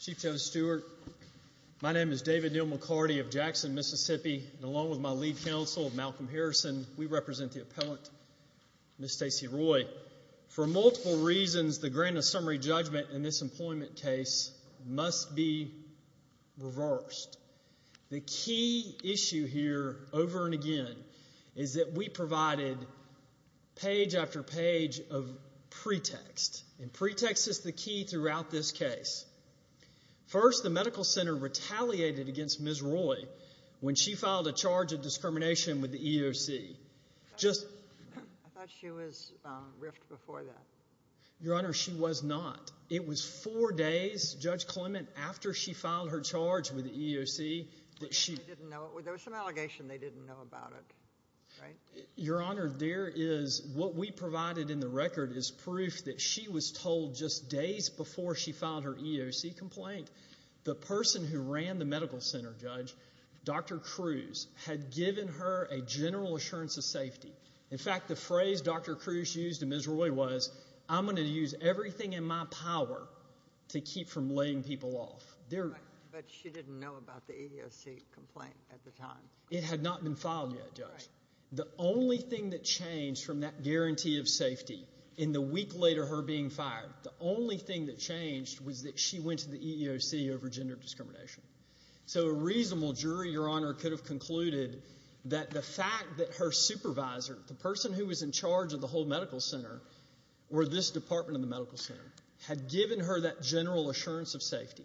Chief Joe Stewart, my name is David Neal McCarty of Jackson, Mississippi, and along with my lead counsel, Malcolm Harrison, we represent the appellant, Ms. Stacey Roy. For multiple reasons, the grant of summary judgment in this employment case must be reversed. The key issue here, over and again, is that we provided page after page of pretext. And pretext is the key throughout this case. First, the medical center retaliated against Ms. Roy when she filed a charge of discrimination with the EEOC. I thought she was riffed before that. Your Honor, she was not. It was four days, Judge Clement, after she filed her charge with the EEOC, that she... They didn't know. There was some allegation they didn't know about it, right? Your Honor, there is... What we provided in the record is proof that she was told just days before she filed her EEOC complaint, the person who ran the medical center, Judge, Dr. Cruz, had given her a general assurance of safety. In fact, the phrase Dr. Cruz used to Ms. Roy was, I'm going to use everything in my power to keep from laying people off. But she didn't know about the EEOC complaint at the time. It had not been filed yet, Judge. The only thing that changed from that guarantee of safety in the week later of her being fired, the only thing that changed was that she went to the EEOC over gender discrimination. So a reasonable jury, Your Honor, could have concluded that the fact that her supervisor, the person who was in charge of the whole medical center, or this department of the medical center, had given her that general assurance of safety.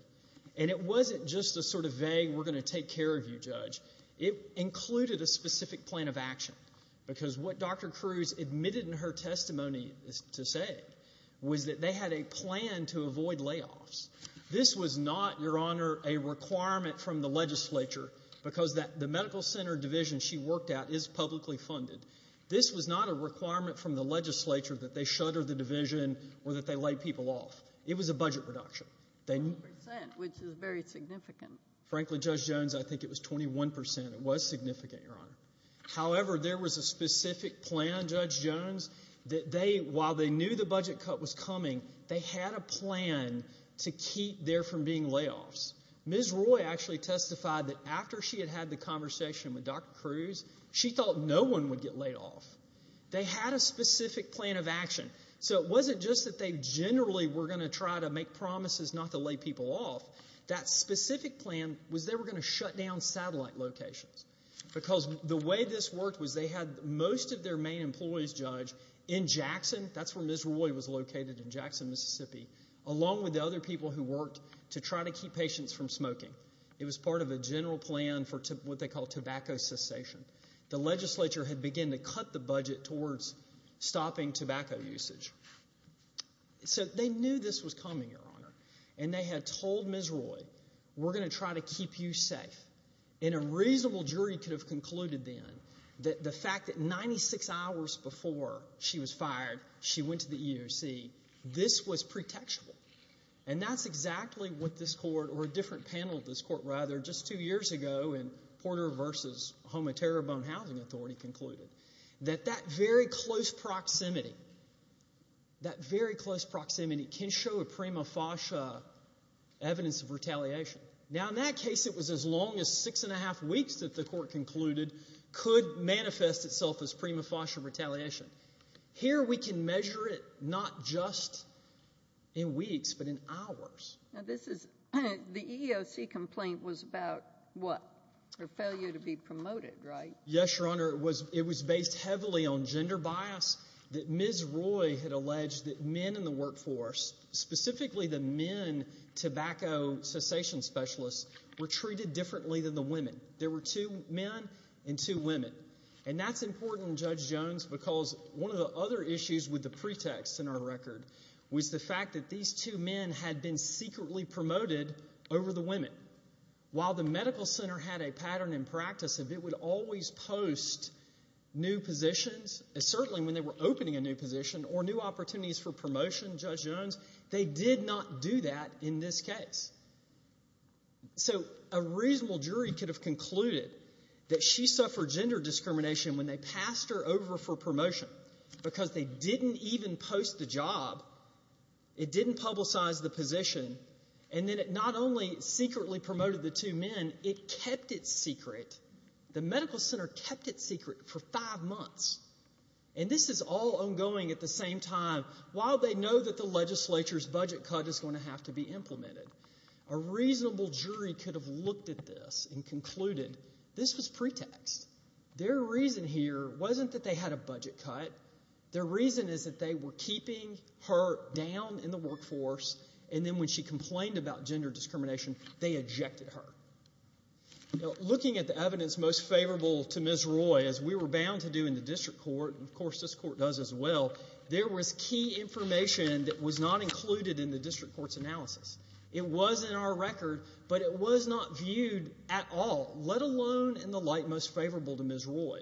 And it wasn't just a sort of vague, we're going to take care of you, Judge. It included a specific plan of action. Because what Dr. Cruz admitted in her testimony to say was that they had a plan to avoid layoffs. This was not, Your Honor, a requirement from the legislature, because the medical center division she worked at is publicly funded. This was not a requirement from the legislature that they shutter the division or that they lay people off. It was a budget reduction. 100 percent, which is very significant. Frankly, Judge Jones, I think it was 21 percent. It was significant, Your Honor. However, there was a specific plan, Judge Jones, that they, while they knew the budget cut was coming, they had a plan to keep there from being layoffs. Ms. Roy actually testified that after she had had the conversation with Dr. Cruz, she thought no one would get laid off. They had a specific plan of action. So it wasn't just that they generally were going to try to make promises not to lay people off. That specific plan was they were going to shut down satellite locations. Because the way this worked was they had most of their main employees, Judge, in Jackson. That's where Ms. Roy was located in Jackson, Mississippi, along with the other people who worked to try to keep patients from smoking. It was part of a general plan for what they call tobacco cessation. The legislature had begun to cut the budget towards stopping tobacco usage. So they knew this was coming, Your Honor. And they had told Ms. Roy, we're going to try to keep you safe. And a reasonable jury could have concluded then that the fact that 96 hours before she was fired, she went to the EEOC, this was pretextual. And that's exactly what this court, or a different panel of this court, rather, just two years ago in Porter v. Homo Terribone Housing Authority concluded, that that very close proximity, that very close proximity can show a prima facie evidence of retaliation. Now in that case, it was as long as six and a half weeks that the court concluded could manifest itself as prima facie retaliation. Here we can measure it not just in weeks, but in hours. This is, the EEOC complaint was about what, her failure to be promoted, right? Yes, Your Honor. It was based heavily on gender bias, that Ms. Roy had alleged that men in the workforce, specifically the men tobacco cessation specialists, were treated differently than the women. There were two men and two women. And that's important, Judge Jones, because one of the other issues with the pretext in our record was the fact that these two men had been secretly promoted over the women. While the medical center had a pattern in practice of it would always post new positions, certainly when they were opening a new position, or new opportunities for promotion, Judge Jones, they did not do that in this case. So a reasonable jury could have concluded that she suffered gender discrimination when they passed her over for promotion, because they didn't even post the job, it didn't publicize the position, and then it not only secretly promoted the two men, it kept it secret. The medical center kept it secret for five months. And this is all ongoing at the same time, while they know that the legislature's budget cut is going to have to be implemented. A reasonable jury could have looked at this and concluded this was pretext. Their reason here wasn't that they had a budget cut. Their reason is that they were keeping her down in the workforce, and then when she complained about gender discrimination, they ejected her. Looking at the evidence most favorable to Ms. Roy, as we were bound to do in the district court, and of course this court does as well, there was key information that was not included in the district court's analysis. It was in our record, but it was not viewed at all, let alone in the light most favorable to Ms. Roy.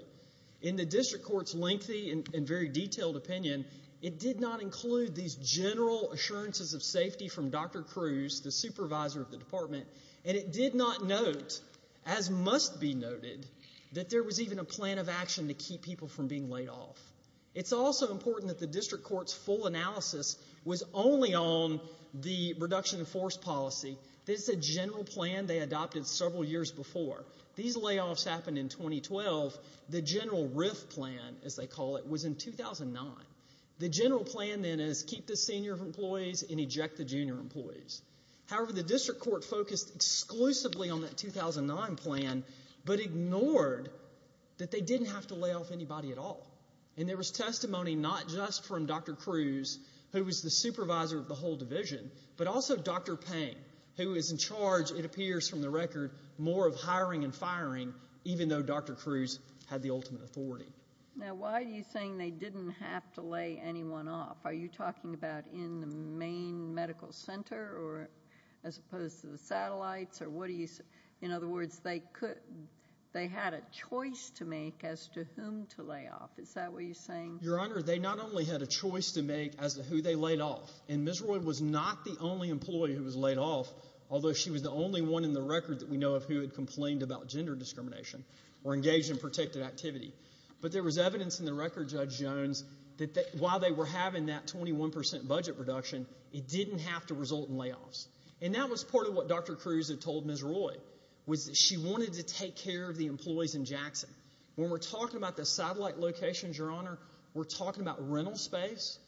In the district court's lengthy and very detailed opinion, it did not include these general assurances of safety from Dr. Cruz, the supervisor of the department, and it did not note, as must be noted, that there was even a plan of action to keep people from being laid off. It's also important that the district court's full analysis was only on the reduction of force policy. This is a general plan they adopted several years before. These layoffs happened in 2012. The general RIF plan, as they call it, was in 2009. The general plan then is keep the senior employees and eject the junior employees. However, the district court focused exclusively on that 2009 plan, but ignored that they didn't have to lay off anybody at all, and there was testimony not just from Dr. Cruz, who was the supervisor of the whole division, but also Dr. Pang, who is in charge, it appears from the record, more of hiring and firing, even though Dr. Cruz had the ultimate authority. Now, why are you saying they didn't have to lay anyone off? Are you talking about in the main medical center, or as opposed to the satellites, or what do you say? In other words, they could, they had a choice to make as to whom to lay off. Is that what you're saying? Your Honor, they not only had a choice to make as to who they laid off, and Ms. Roy was not the only employee who was laid off, although she was the only one in the record that we know of who had complained about gender discrimination or engaged in protective activity. But there was evidence in the record, Judge Jones, that while they were having that 21% budget reduction, it didn't have to result in layoffs. And that was part of what Dr. Cruz had told Ms. Roy, was that she wanted to take care of the employees in Jackson. When we're talking about the satellite locations, Your Honor, we're talking about rental space,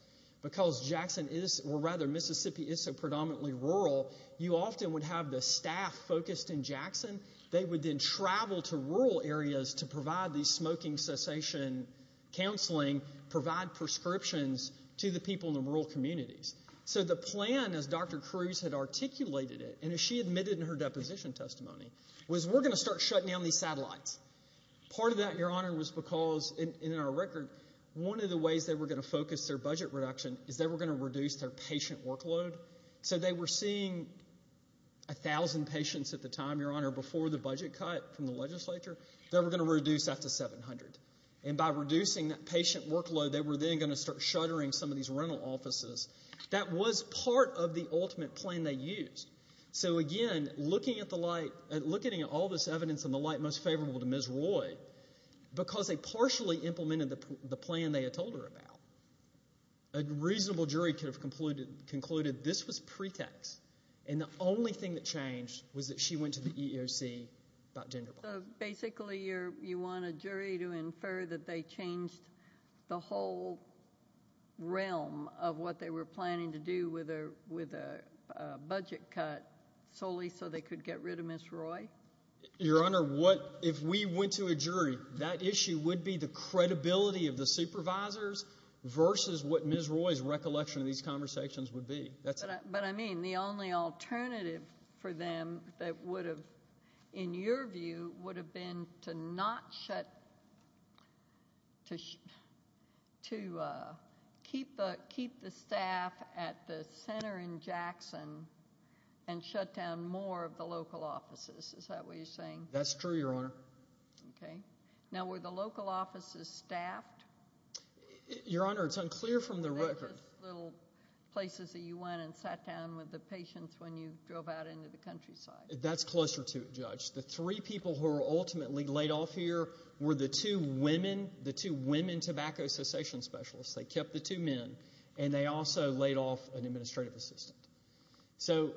because Jackson is, or rather, Mississippi is so predominantly rural, you often would have the staff focused in Jackson. They would then travel to rural areas to provide these smoking cessation counseling, provide prescriptions to the people in the rural communities. So the plan, as Dr. Cruz had articulated it, and as she admitted in her deposition testimony, was we're going to start shutting down these satellites. Part of that, Your Honor, was because, in our record, one of the ways they were going to focus their budget reduction is they were going to reduce their patient workload. So they were seeing 1,000 patients at the time, Your Honor, before the budget cut from the legislature. They were going to reduce that to 700. And by reducing that patient workload, they were then going to start shuttering some of these rental offices. That was part of the ultimate plan they used. So again, looking at the light, looking at all this evidence in the light most favorable to Ms. Roy, because they partially implemented the plan they had told her about, a reasonable jury could have concluded this was pretext, and the only thing that changed was that she went to the EEOC about gender bias. Basically you want a jury to infer that they changed the whole realm of what they were planning to do with a budget cut solely so they could get rid of Ms. Roy? Your Honor, if we went to a jury, that issue would be the credibility of the supervisors versus what Ms. Roy's recollection of these conversations would be. But I mean, the only alternative for them that would have, in your view, would have been to not shut, to keep the staff at the center in Jackson and shut down more of the local offices. Is that what you're saying? That's true, Your Honor. Okay. Now, were the local offices staffed? Your Honor, it's unclear from the record. They were just little places that you went and sat down with the patients when you drove out into the countryside. That's closer to it, Judge. The three people who were ultimately laid off here were the two women, the two women tobacco cessation specialists. They kept the two men, and they also laid off an administrative assistant. So,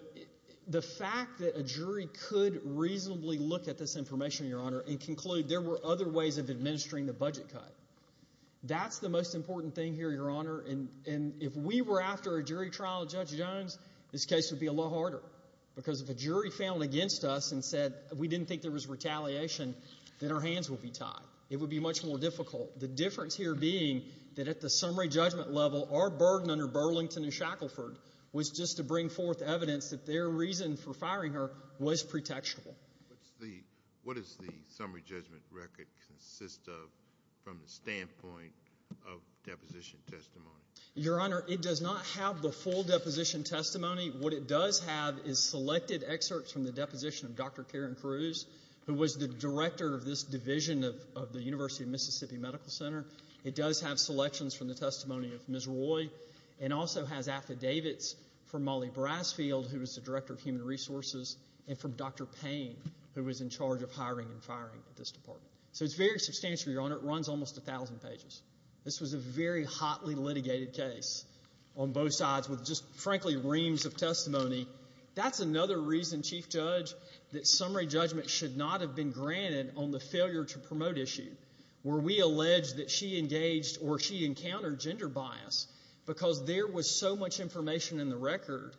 the fact that a jury could reasonably look at this information, Your Honor, and conclude there were other ways of administering the budget cut, that's the most important thing here, Your Honor. And if we were after a jury trial of Judge Jones, this case would be a lot harder. Because if a jury found against us and said we didn't think there was retaliation, then our hands would be tied. It would be much more difficult. The difference here being that at the summary judgment level, our burden under Burlington and Shackleford was just to bring forth evidence that their reason for firing her was pretextual. What does the summary judgment record consist of from the standpoint of deposition testimony? Your Honor, it does not have the full deposition testimony. What it does have is selected excerpts from the deposition of Dr. Karen Cruz, who was the director of this division of the University of Mississippi Medical Center. It does have selections from the testimony of Ms. Roy. It also has affidavits from Molly Brasfield, who was the director of Human Resources, and from Dr. Payne, who was in charge of hiring and firing at this department. So, it's very substantial, Your Honor. It runs almost 1,000 pages. This was a very hotly litigated case on both sides with just, frankly, reams of testimony. That's another reason, Chief Judge, that summary judgment should not have been granted on the failure to promote issue. Where we allege that she engaged or she encountered gender bias because there was so much information in the record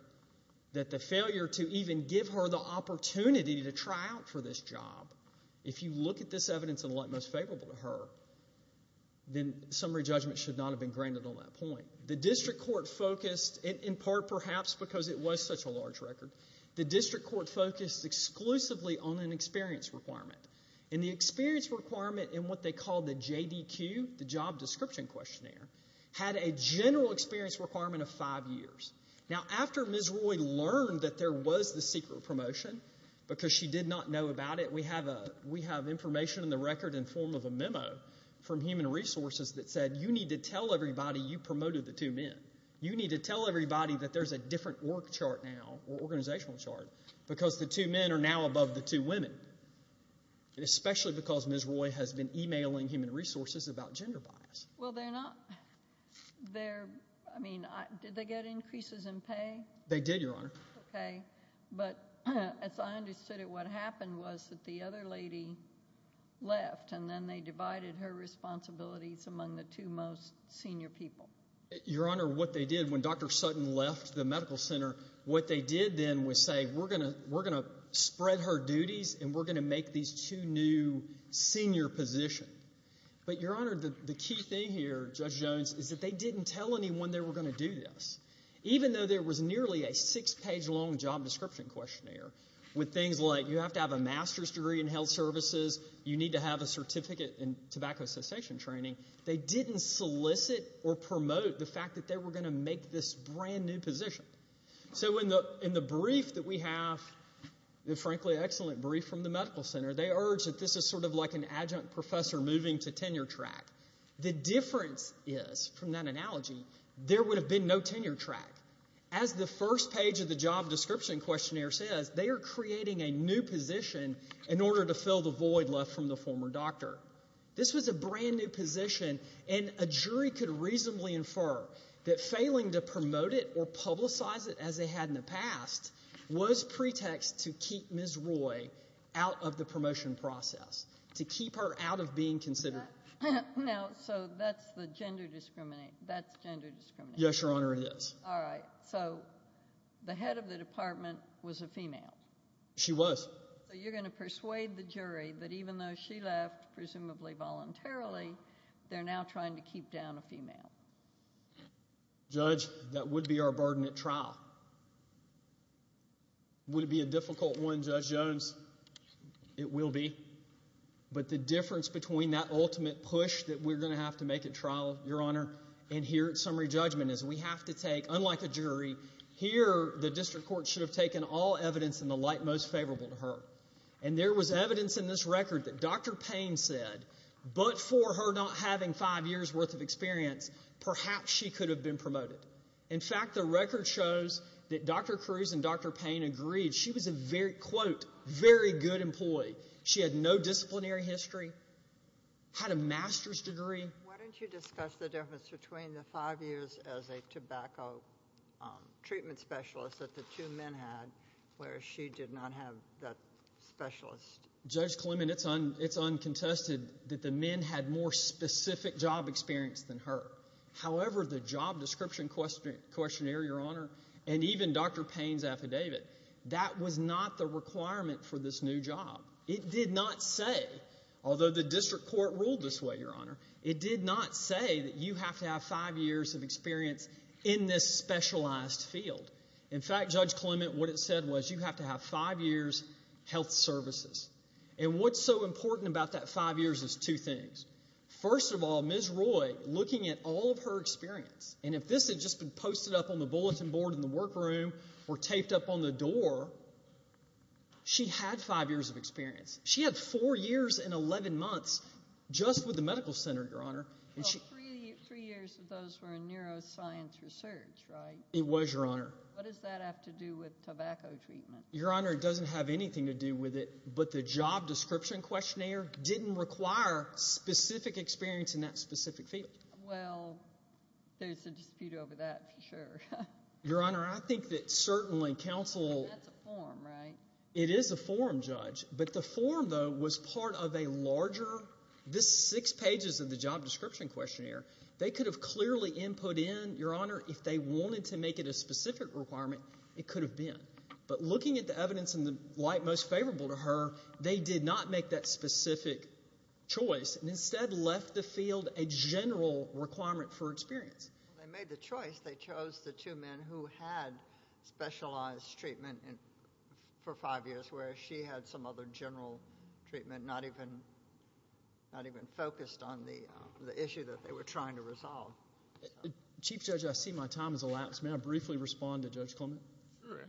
that the failure to even give her the opportunity to try out for this job. If you look at this evidence and elect most favorable to her, then summary judgment should not have been granted on that point. The district court focused, in part perhaps because it was such a large record, the district court focused exclusively on an experience requirement. And the experience requirement in what they call the JDQ, the job description questionnaire, had a general experience requirement of five years. Now, after Ms. Roy learned that there was the secret promotion, because she did not know about it, we have information in the record in form of a memo from Human Resources that said, you need to tell everybody you promoted the two men. You need to tell everybody that there's a different work chart now, or organizational chart, because the two men are now above the two women. Especially because Ms. Roy has been emailing Human Resources about gender bias. Well, they're not, they're, I mean, did they get increases in pay? They did, Your Honor. Okay, but as I understood it, what happened was that the other lady left, and then they divided her responsibilities among the two most senior people. Your Honor, what they did when Dr. Sutton left the medical center, what they did then was say, we're going to spread her duties, and we're going to make these two new senior positions. But, Your Honor, the key thing here, Judge Jones, is that they didn't tell anyone they were going to do this. Even though there was nearly a six-page long job description questionnaire, with things like, you have to have a master's degree in health services, you need to have a certificate in tobacco cessation training, they didn't solicit or promote the fact that they were going to make this brand new position. So in the brief that we have, the frankly excellent brief from the medical center, they urge that this is sort of like an adjunct professor moving to tenure track. The difference is, from that analogy, there would have been no tenure track. As the first page of the job description questionnaire says, they are creating a new position in order to fill the void left from the former doctor. This was a brand new position, and a jury could reasonably infer that failing to promote it or publicize it as they had in the past was pretext to keep Ms. Roy out of the promotion process, to keep her out of being considered. Now, so that's the gender discrimination. That's gender discrimination. Yes, Your Honor, it is. All right, so the head of the department was a female. She was. So you're going to persuade the jury that even though she left, presumably voluntarily, they're now trying to keep down a female. Judge, that would be our burden at trial. Would it be a difficult one, Judge Jones? It will be. But the difference between that ultimate push that we're going to have to make at trial, Your Honor, and here at summary judgment is we have to take, unlike a jury, here the district court should have taken all evidence in the light most favorable to her. And there was evidence in this record that Dr. Payne said, but for her not having five years' worth of experience, perhaps she could have been promoted. In fact, the record shows that Dr. Cruz and Dr. Payne agreed. She was a, quote, very good employee. She had no disciplinary history, had a master's degree. Why don't you discuss the difference between the five years as a tobacco treatment specialist that the two men had, where she did not have that specialist? Judge Clement, it's uncontested that the men had more specific job experience than her. However, the job description questionnaire, Your Honor, and even Dr. Payne's affidavit, that was not the requirement for this new job. It did not say, although the district court ruled this way, Your Honor, it did not say that you have to have five years of experience in this specialized field. In fact, Judge Clement, what it said was you have to have five years' health services. And what's so important about that five years is two things. First of all, Ms. Roy, looking at all of her experience, and if this had just been posted up on the bulletin board in the workroom or taped up on the door, she had five years of experience. She had four years and 11 months just with the medical center, Your Honor. Well, three years of those were in neuroscience research, right? It was, Your Honor. What does that have to do with tobacco treatment? Your Honor, it doesn't have anything to do with it, but the job description questionnaire didn't require specific experience in that specific field. Well, there's a dispute over that for sure. Your Honor, I think that certainly counsel— That's a form, right? It is a form, Judge. But the form, though, was part of a larger—this six pages of the job description questionnaire, they could have clearly input in, Your Honor, if they wanted to make it a specific requirement, it could have been. But looking at the evidence in the light most favorable to her, they did not make that specific choice and instead left the field a general requirement for experience. Well, they made the choice. They chose the two men who had specialized treatment for five years, whereas she had some other general treatment, not even focused on the issue that they were trying to resolve. Chief Judge, I see my time has elapsed. May I briefly respond to Judge Clement? Sure.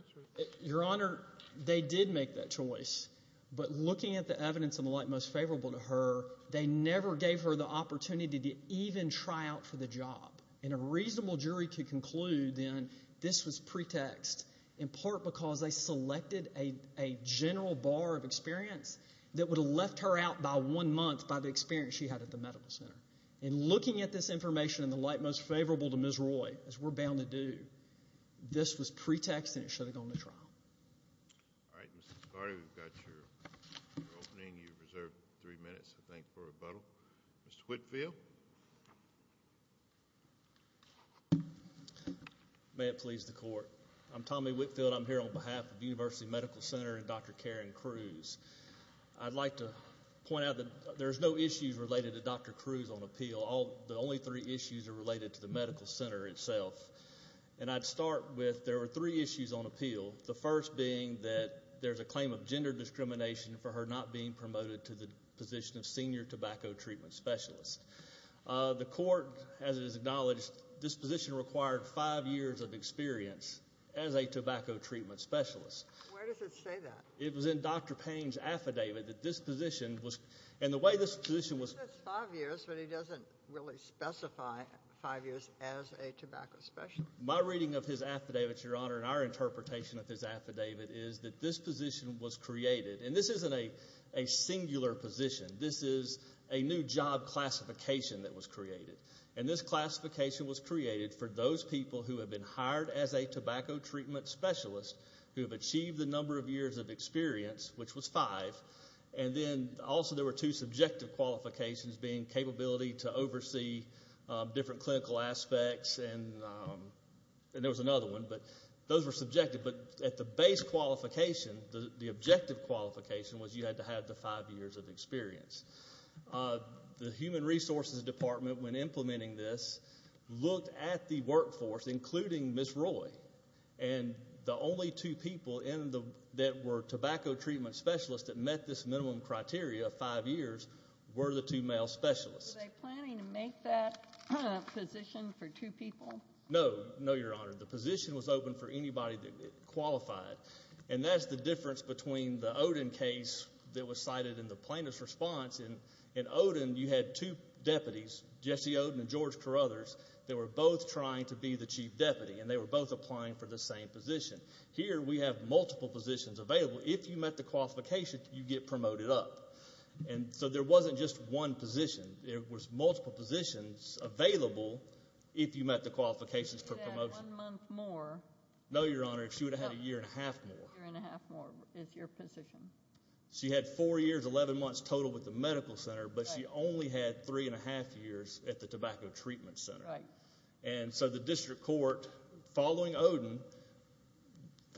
Your Honor, they did make that choice. But looking at the evidence in the light most favorable to her, they never gave her the opportunity to even try out for the job. And a reasonable jury could conclude, then, this was pretext, in part because they selected a general bar of experience that would have left her out by one month by the experience she had at the medical center. And looking at this information in the light most favorable to Ms. Roy, as we're bound to do, this was pretext and it should have gone to trial. All right, Mr. Scardi, we've got your opening. Mr. Whitfield? May it please the Court. I'm Tommy Whitfield. I'm here on behalf of the University Medical Center and Dr. Karen Cruz. I'd like to point out that there's no issues related to Dr. Cruz on appeal. The only three issues are related to the medical center itself. And I'd start with there were three issues on appeal, the first being that there's a claim of gender discrimination for her not being promoted to the position of senior tobacco treatment specialist. The Court, as it is acknowledged, this position required five years of experience as a tobacco treatment specialist. Where does it say that? It was in Dr. Payne's affidavit that this position was – and the way this position was – He says five years, but he doesn't really specify five years as a tobacco specialist. My reading of his affidavit, Your Honor, and our interpretation of his affidavit is that this position was created. And this isn't a singular position. This is a new job classification that was created. And this classification was created for those people who have been hired as a tobacco treatment specialist who have achieved the number of years of experience, which was five. And then also there were two subjective qualifications being capability to oversee different clinical aspects. And there was another one, but those were subjective. But at the base qualification, the objective qualification was you had to have the five years of experience. The Human Resources Department, when implementing this, looked at the workforce, including Ms. Roy. And the only two people that were tobacco treatment specialists that met this minimum criteria of five years were the two male specialists. Were they planning to make that position for two people? No. No, Your Honor. The position was open for anybody that qualified. And that's the difference between the Oden case that was cited in the plaintiff's response. In Oden, you had two deputies, Jesse Oden and George Carruthers, that were both trying to be the chief deputy. And they were both applying for the same position. Here we have multiple positions available. If you met the qualifications, you get promoted up. And so there wasn't just one position. There was multiple positions available if you met the qualifications for promotion. If you had one month more. No, Your Honor. If she would have had a year and a half more. A year and a half more is your position. She had four years, 11 months total with the medical center. But she only had three and a half years at the tobacco treatment center. Right. And so the district court, following Oden,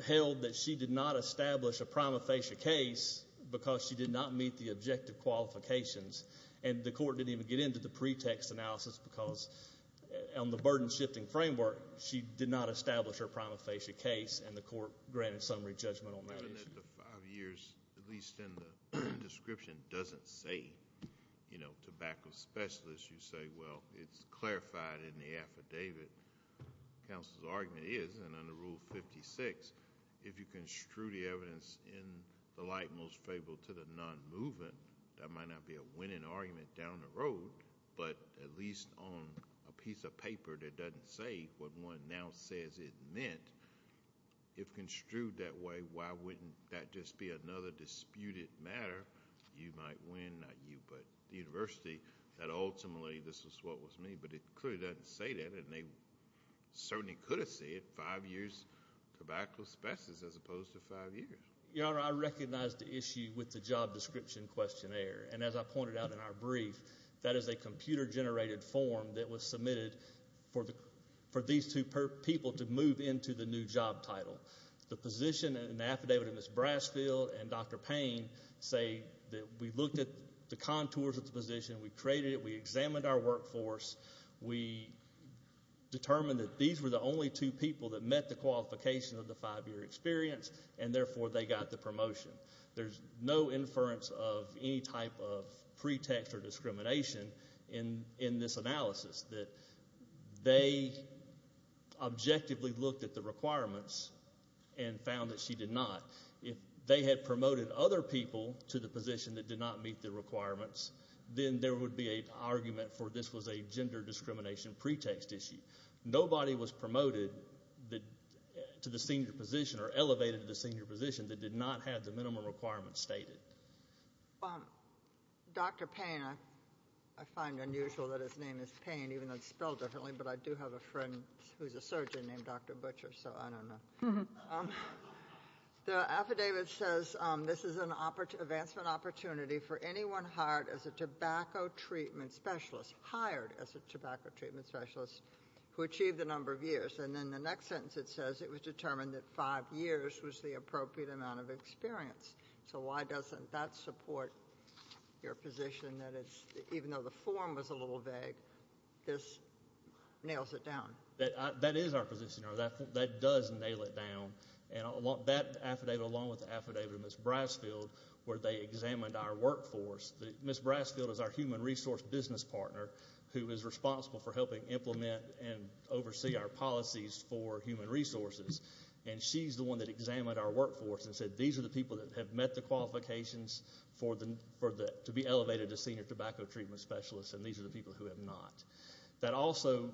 held that she did not establish a prima facie case because she did not meet the objective qualifications. And the court didn't even get into the pretext analysis because on the burden-shifting framework, she did not establish her prima facie case, and the court granted summary judgment on that issue. The five years, at least in the description, doesn't say tobacco specialist. You say, well, it's clarified in the affidavit. Counsel's argument is, and under Rule 56, if you construe the evidence in the light most favorable to the non-moving, that might not be a winning argument down the road, but at least on a piece of paper that doesn't say what one now says it meant. If construed that way, why wouldn't that just be another disputed matter? You might win, not you, but the university, that ultimately this is what was meant. But it clearly doesn't say that, and they certainly could have said five years tobacco specialist as opposed to five years. Your Honor, I recognize the issue with the job description questionnaire. And as I pointed out in our brief, that is a computer-generated form that was submitted for these two people to move into the new job title. The position in the affidavit of Ms. Brasfield and Dr. Payne say that we looked at the contours of the position. We created it. We examined our workforce. We determined that these were the only two people that met the qualification of the five-year experience, and therefore they got the promotion. There's no inference of any type of pretext or discrimination in this analysis, that they objectively looked at the requirements and found that she did not. If they had promoted other people to the position that did not meet the requirements, then there would be an argument for this was a gender discrimination pretext issue. Nobody was promoted to the senior position or elevated to the senior position that did not have the minimum requirements stated. Dr. Payne, I find unusual that his name is Payne, even though it's spelled differently, but I do have a friend who's a surgeon named Dr. Butcher, so I don't know. The affidavit says this is an advancement opportunity for anyone hired as a tobacco treatment specialist, hired as a tobacco treatment specialist, who achieved the number of years. And in the next sentence it says it was determined that five years was the appropriate amount of experience. So why doesn't that support your position that even though the form was a little vague, this nails it down? That is our position. That does nail it down. And that affidavit, along with the affidavit of Ms. Brasfield, where they examined our workforce, Ms. Brasfield is our human resource business partner who is responsible for helping implement and oversee our policies for human resources, and she's the one that examined our workforce and said these are the people that have met the qualifications to be elevated to senior tobacco treatment specialist and these are the people who have not. That also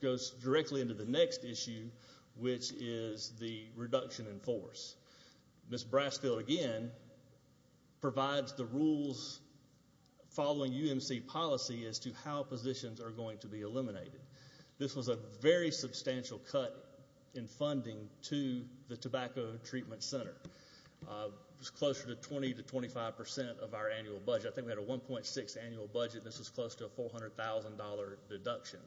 goes directly into the next issue, which is the reduction in force. Ms. Brasfield, again, provides the rules following UMC policy as to how positions are going to be eliminated. This was a very substantial cut in funding to the Tobacco Treatment Center. It was closer to 20 to 25 percent of our annual budget. I think we had a 1.6 annual budget, and this was close to a $400,000 deduction.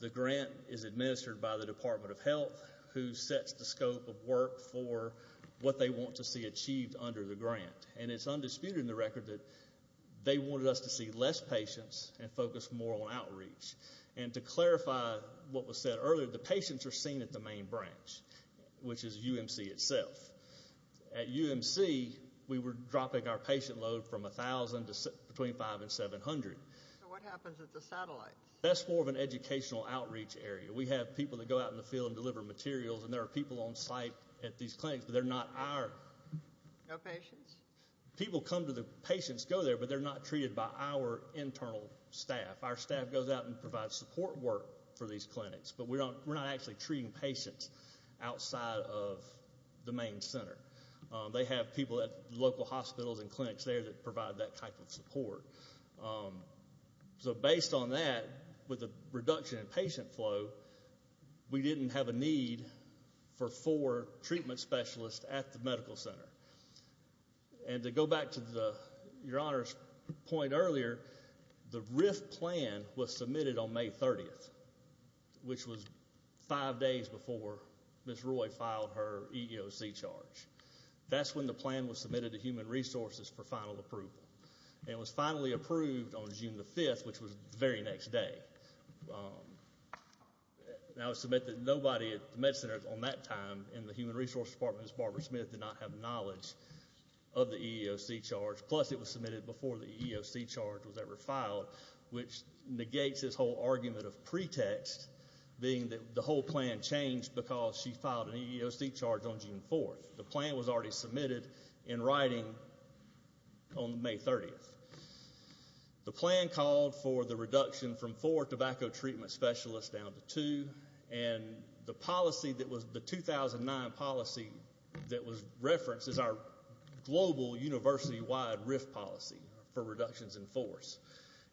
The grant is administered by the Department of Health, who sets the scope of work for what they want to see achieved under the grant. And it's undisputed in the record that they wanted us to see less patients and focus more on outreach. And to clarify what was said earlier, the patients are seen at the main branch, which is UMC itself. At UMC, we were dropping our patient load from 1,000 to between 500 and 700. So what happens at the satellite? That's more of an educational outreach area. We have people that go out in the field and deliver materials, and there are people on site at these clinics, but they're not our patients. No patients? People come to the patients go there, but they're not treated by our internal staff. Our staff goes out and provides support work for these clinics, but we're not actually treating patients outside of the main center. They have people at local hospitals and clinics there that provide that type of support. So based on that, with the reduction in patient flow, we didn't have a need for four treatment specialists at the medical center. And to go back to Your Honor's point earlier, the RIF plan was submitted on May 30th, which was five days before Ms. Roy filed her EEOC charge. That's when the plan was submitted to Human Resources for final approval. And it was finally approved on June 5th, which was the very next day. Now it was submitted, nobody at the med centers on that time in the Human Resources Department as Barbara Smith did not have knowledge of the EEOC charge, plus it was submitted before the EEOC charge was ever filed, which negates this whole argument of pretext being that the whole plan changed because she filed an EEOC charge on June 4th. The plan was already submitted in writing on May 30th. The plan called for the reduction from four tobacco treatment specialists down to two. And the policy that was the 2009 policy that was referenced is our global university-wide RIF policy for reductions in force.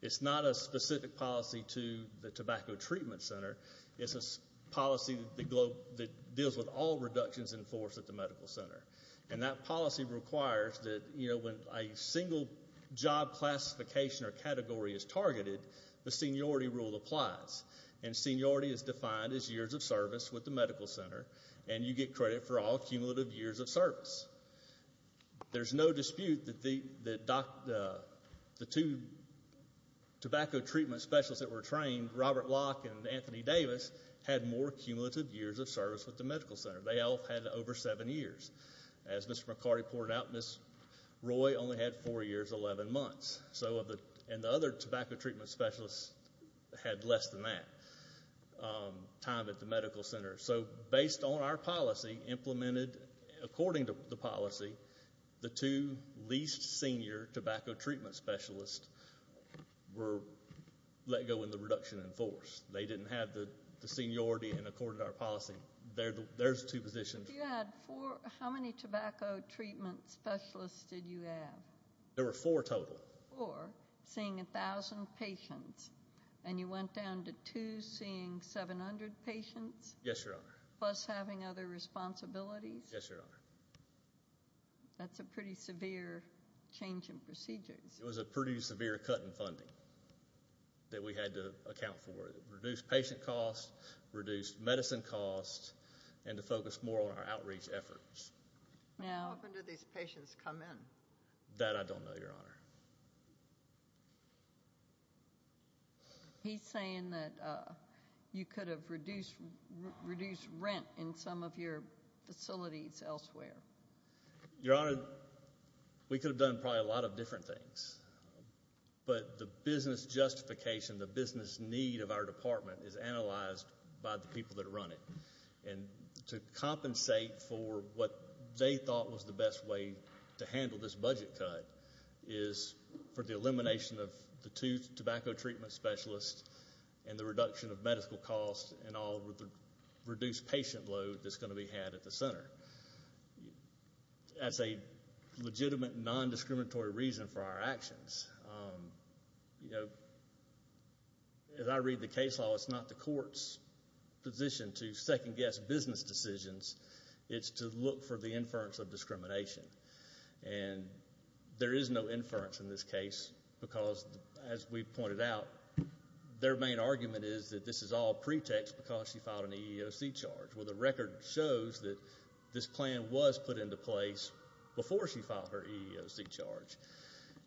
It's not a specific policy to the tobacco treatment center. It's a policy that deals with all reductions in force at the medical center. And that policy requires that when a single job classification or category is targeted, the seniority rule applies. And seniority is defined as years of service with the medical center, and you get credit for all cumulative years of service. There's no dispute that the two tobacco treatment specialists that were trained, Robert Locke and Anthony Davis, had more cumulative years of service with the medical center. They all had over seven years. As Mr. McCarty pointed out, Ms. Roy only had four years, 11 months. And the other tobacco treatment specialists had less than that time at the medical center. So based on our policy, implemented according to the policy, the two least senior tobacco treatment specialists were let go in the reduction in force. They didn't have the seniority and accorded our policy. There's two positions. If you had four, how many tobacco treatment specialists did you have? There were four total. Four, seeing 1,000 patients, and you went down to two seeing 700 patients? Yes, Your Honor. Plus having other responsibilities? Yes, Your Honor. That's a pretty severe change in procedures. It was a pretty severe cut in funding that we had to account for, reduce patient costs, reduce medicine costs, and to focus more on our outreach efforts. When do these patients come in? That I don't know, Your Honor. He's saying that you could have reduced rent in some of your facilities elsewhere. Your Honor, we could have done probably a lot of different things. But the business justification, the business need of our department is analyzed by the people that run it. And to compensate for what they thought was the best way to handle this budget cut is for the elimination of the two tobacco treatment specialists and the reduction of medical costs and all of the reduced patient load that's going to be had at the center. That's a legitimate, non-discriminatory reason for our actions. As I read the case law, it's not the court's position to second-guess business decisions. It's to look for the inference of discrimination. And there is no inference in this case because, as we pointed out, their main argument is that this is all pretext because she filed an EEOC charge. Well, the record shows that this plan was put into place before she filed her EEOC charge.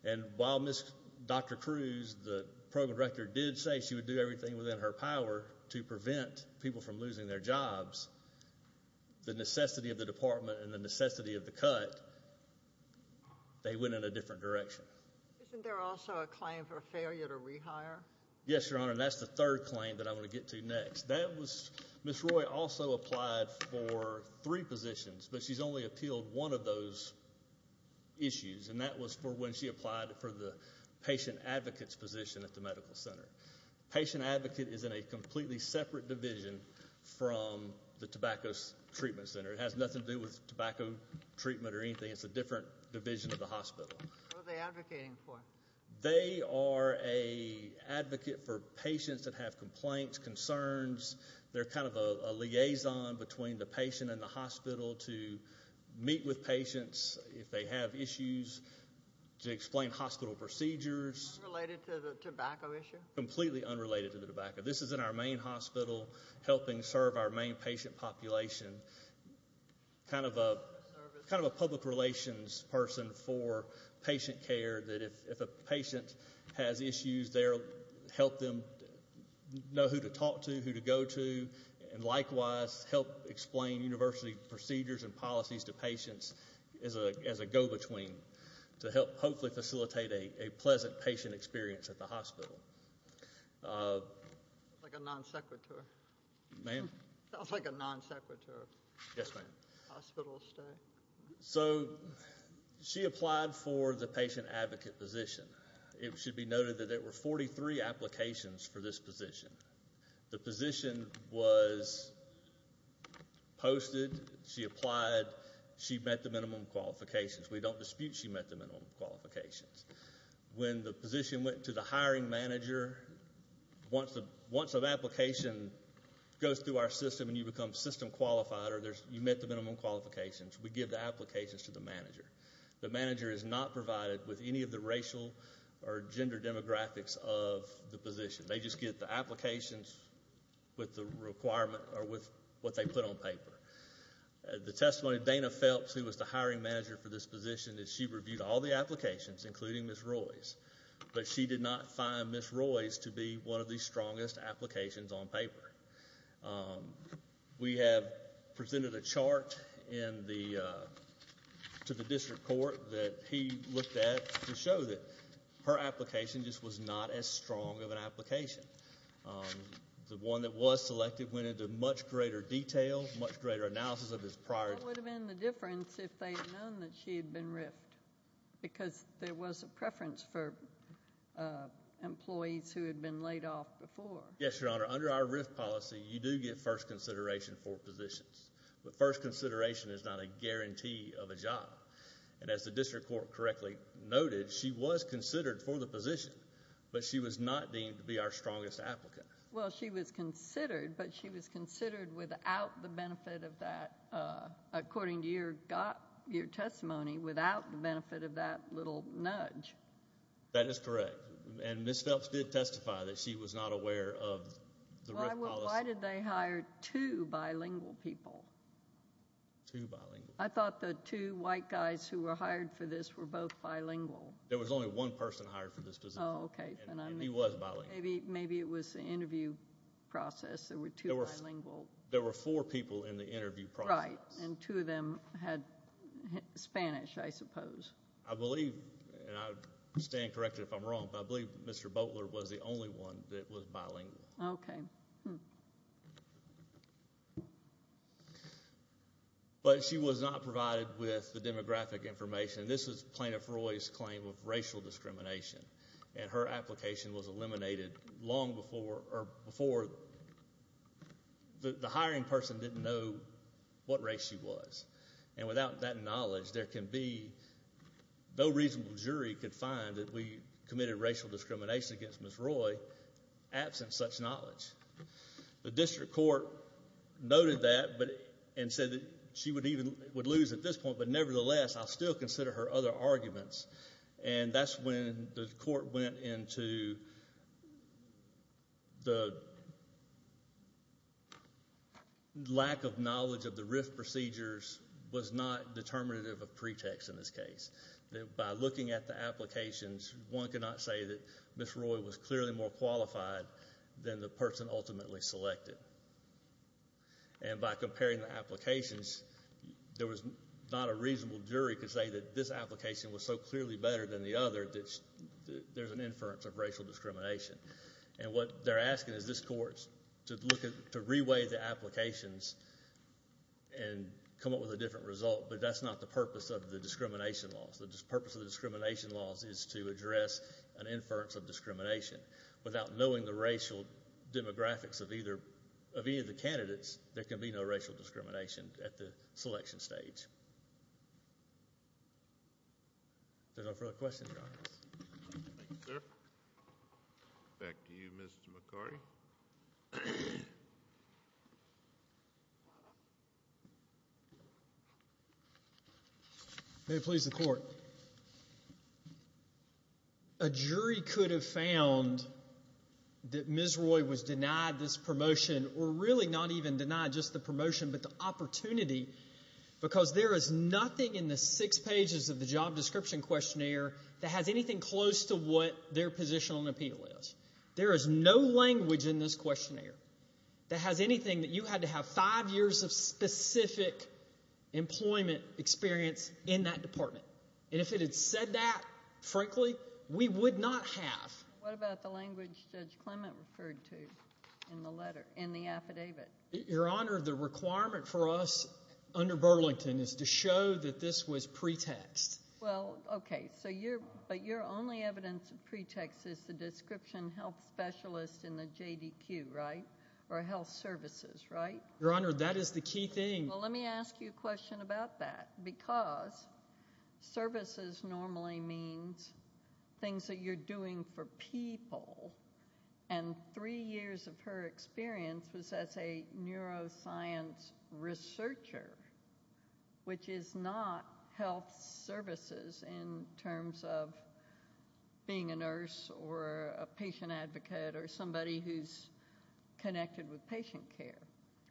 And while Dr. Cruz, the program director, did say she would do everything within her power to prevent people from losing their jobs, the necessity of the department and the necessity of the cut, they went in a different direction. Isn't there also a claim for a failure to rehire? Yes, Your Honor, and that's the third claim that I want to get to next. That was Ms. Roy also applied for three positions, but she's only appealed one of those issues, and that was for when she applied for the patient advocate's position at the medical center. Patient advocate is in a completely separate division from the tobacco treatment center. It has nothing to do with tobacco treatment or anything. It's a different division of the hospital. What are they advocating for? They are an advocate for patients that have complaints, concerns. They're kind of a liaison between the patient and the hospital to meet with patients if they have issues, to explain hospital procedures. Unrelated to the tobacco issue? Completely unrelated to the tobacco. This is in our main hospital helping serve our main patient population, kind of a public relations person for patient care that if a patient has issues, they'll help them know who to talk to, who to go to, and likewise help explain university procedures and policies to patients as a go-between to help hopefully facilitate a pleasant patient experience at the hospital. Like a non-secretary. Ma'am? Sounds like a non-secretary. Yes, ma'am. Hospital stay. So she applied for the patient advocate position. It should be noted that there were 43 applications for this position. The position was posted. She applied. She met the minimum qualifications. We don't dispute she met the minimum qualifications. When the position went to the hiring manager, once an application goes through our system and you become system qualified or you met the minimum qualifications, we give the applications to the manager. The manager is not provided with any of the racial or gender demographics of the position. They just get the applications with the requirement or with what they put on paper. The testimony of Dana Phelps, who was the hiring manager for this position, is she reviewed all the applications, including Ms. Roy's, but she did not find Ms. Roy's to be one of the strongest applications on paper. We have presented a chart to the district court that he looked at to show that her application just was not as strong of an application. The one that was selected went into much greater detail, much greater analysis of this prior. What would have been the difference if they had known that she had been riffed? Because there was a preference for employees who had been laid off before. Yes, Your Honor. Under our riff policy, you do get first consideration for positions, but first consideration is not a guarantee of a job. And as the district court correctly noted, she was considered for the position, but she was not deemed to be our strongest applicant. Well, she was considered, but she was considered without the benefit of that, according to your testimony, without the benefit of that little nudge. That is correct. And Ms. Phelps did testify that she was not aware of the riff policy. Why did they hire two bilingual people? Two bilingual? I thought the two white guys who were hired for this were both bilingual. There was only one person hired for this position. Oh, okay. And he was bilingual. Maybe it was the interview process. There were two bilingual. There were four people in the interview process. Right, and two of them had Spanish, I suppose. I believe, and I would stand corrected if I'm wrong, but I believe Mr. Boteler was the only one that was bilingual. Okay. But she was not provided with the demographic information. This was Plaintiff Roy's claim of racial discrimination, and her application was eliminated long before the hiring person didn't know what race she was. And without that knowledge, there can be no reasonable jury could find that we committed racial discrimination against Ms. Roy absent such knowledge. The district court noted that and said that she would lose at this point, but nevertheless, I'll still consider her other arguments. And that's when the court went into the lack of knowledge of the RIF procedures was not determinative of pretext in this case. By looking at the applications, one cannot say that Ms. Roy was clearly more qualified than the person ultimately selected. And by comparing the applications, there was not a reasonable jury could say that this application was so clearly better than the other that there's an inference of racial discrimination. And what they're asking is this court to re-weigh the applications and come up with a different result, but that's not the purpose of the discrimination laws. The purpose of the discrimination laws is to address an inference of discrimination. Without knowing the racial demographics of either of any of the candidates, there can be no racial discrimination at the selection stage. If there's no further questions, Your Honor. Thank you, sir. Back to you, Mr. McCarty. May it please the court. A jury could have found that Ms. Roy was denied this promotion, or really not even denied just the promotion, but the opportunity, because there is nothing in the six pages of the job description questionnaire that has anything close to what their position on appeal is. There is no language in this questionnaire that has anything that you had to have five years of specific employment experience in that department. And if it had said that, frankly, we would not have. What about the language Judge Clement referred to in the letter, in the affidavit? Your Honor, the requirement for us under Burlington is to show that this was pretext. Well, okay, but your only evidence of pretext is the description health specialist in the JDQ, right? Or health services, right? Your Honor, that is the key thing. Well, let me ask you a question about that. Because services normally means things that you're doing for people, and three years of her experience was as a neuroscience researcher, which is not health services in terms of being a nurse or a patient advocate or somebody who's connected with patient care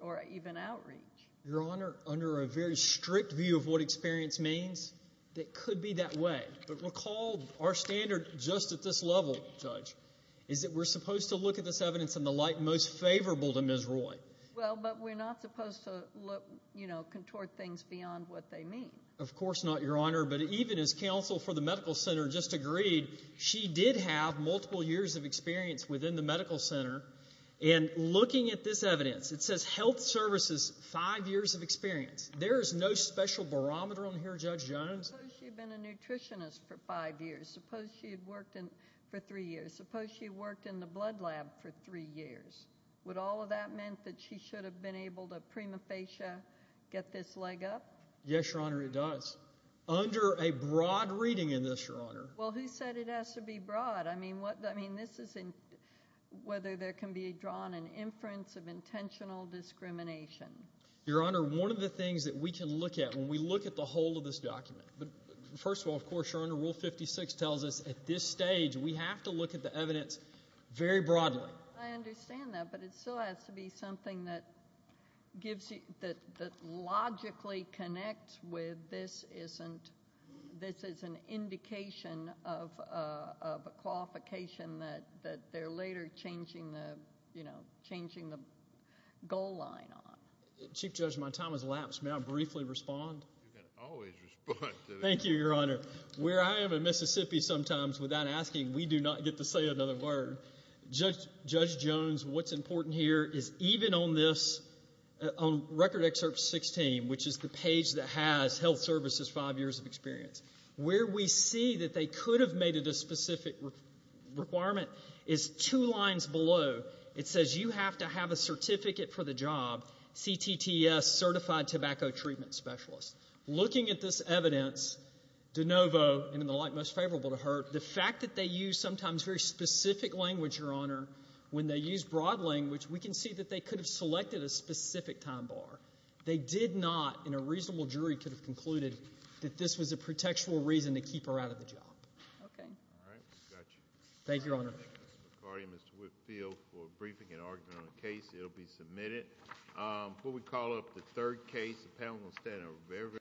or even outreach. Your Honor, under a very strict view of what experience means, it could be that way. But recall our standard just at this level, Judge, is that we're supposed to look at this evidence in the light most favorable to Ms. Roy. Well, but we're not supposed to, you know, contort things beyond what they mean. Of course not, Your Honor. But even as counsel for the medical center just agreed, she did have multiple years of experience within the medical center. And looking at this evidence, it says health services, five years of experience. There is no special barometer on here, Judge Jones. Suppose she had been a nutritionist for five years. Suppose she had worked for three years. Suppose she had worked in the blood lab for three years. Would all of that mean that she should have been able to prima facie get this leg up? Yes, Your Honor, it does. Under a broad reading in this, Your Honor. Well, who said it has to be broad? I mean, this is whether there can be drawn an inference of intentional discrimination. Your Honor, one of the things that we can look at when we look at the whole of this document, first of all, of course, Your Honor, Rule 56 tells us at this stage we have to look at the evidence very broadly. I understand that, but it still has to be something that gives you, that logically connects with this is an indication of a qualification that they're later changing the goal line on. Chief Judge, my time has lapsed. May I briefly respond? You can always respond to this. Thank you, Your Honor. Where I am in Mississippi sometimes without asking, we do not get to say another word. Judge Jones, what's important here is even on this, on Record Excerpt 16, which is the page that has health services five years of experience, where we see that they could have made it a specific requirement is two lines below. It says you have to have a certificate for the job, CTTS, Certified Tobacco Treatment Specialist. Looking at this evidence, de novo, and in the light most favorable to her, the fact that they use sometimes very specific language, Your Honor, when they use broad language, we can see that they could have selected a specific time bar. They did not in a reasonable jury could have concluded that this was a pretextual reason to keep her out of the job. Okay. All right. We've got you. Thank you, Your Honor. Mr. McCarty and Mr. Whitfield for briefing and argument on the case. It will be submitted. Before we call up the third case, the panel will stand up.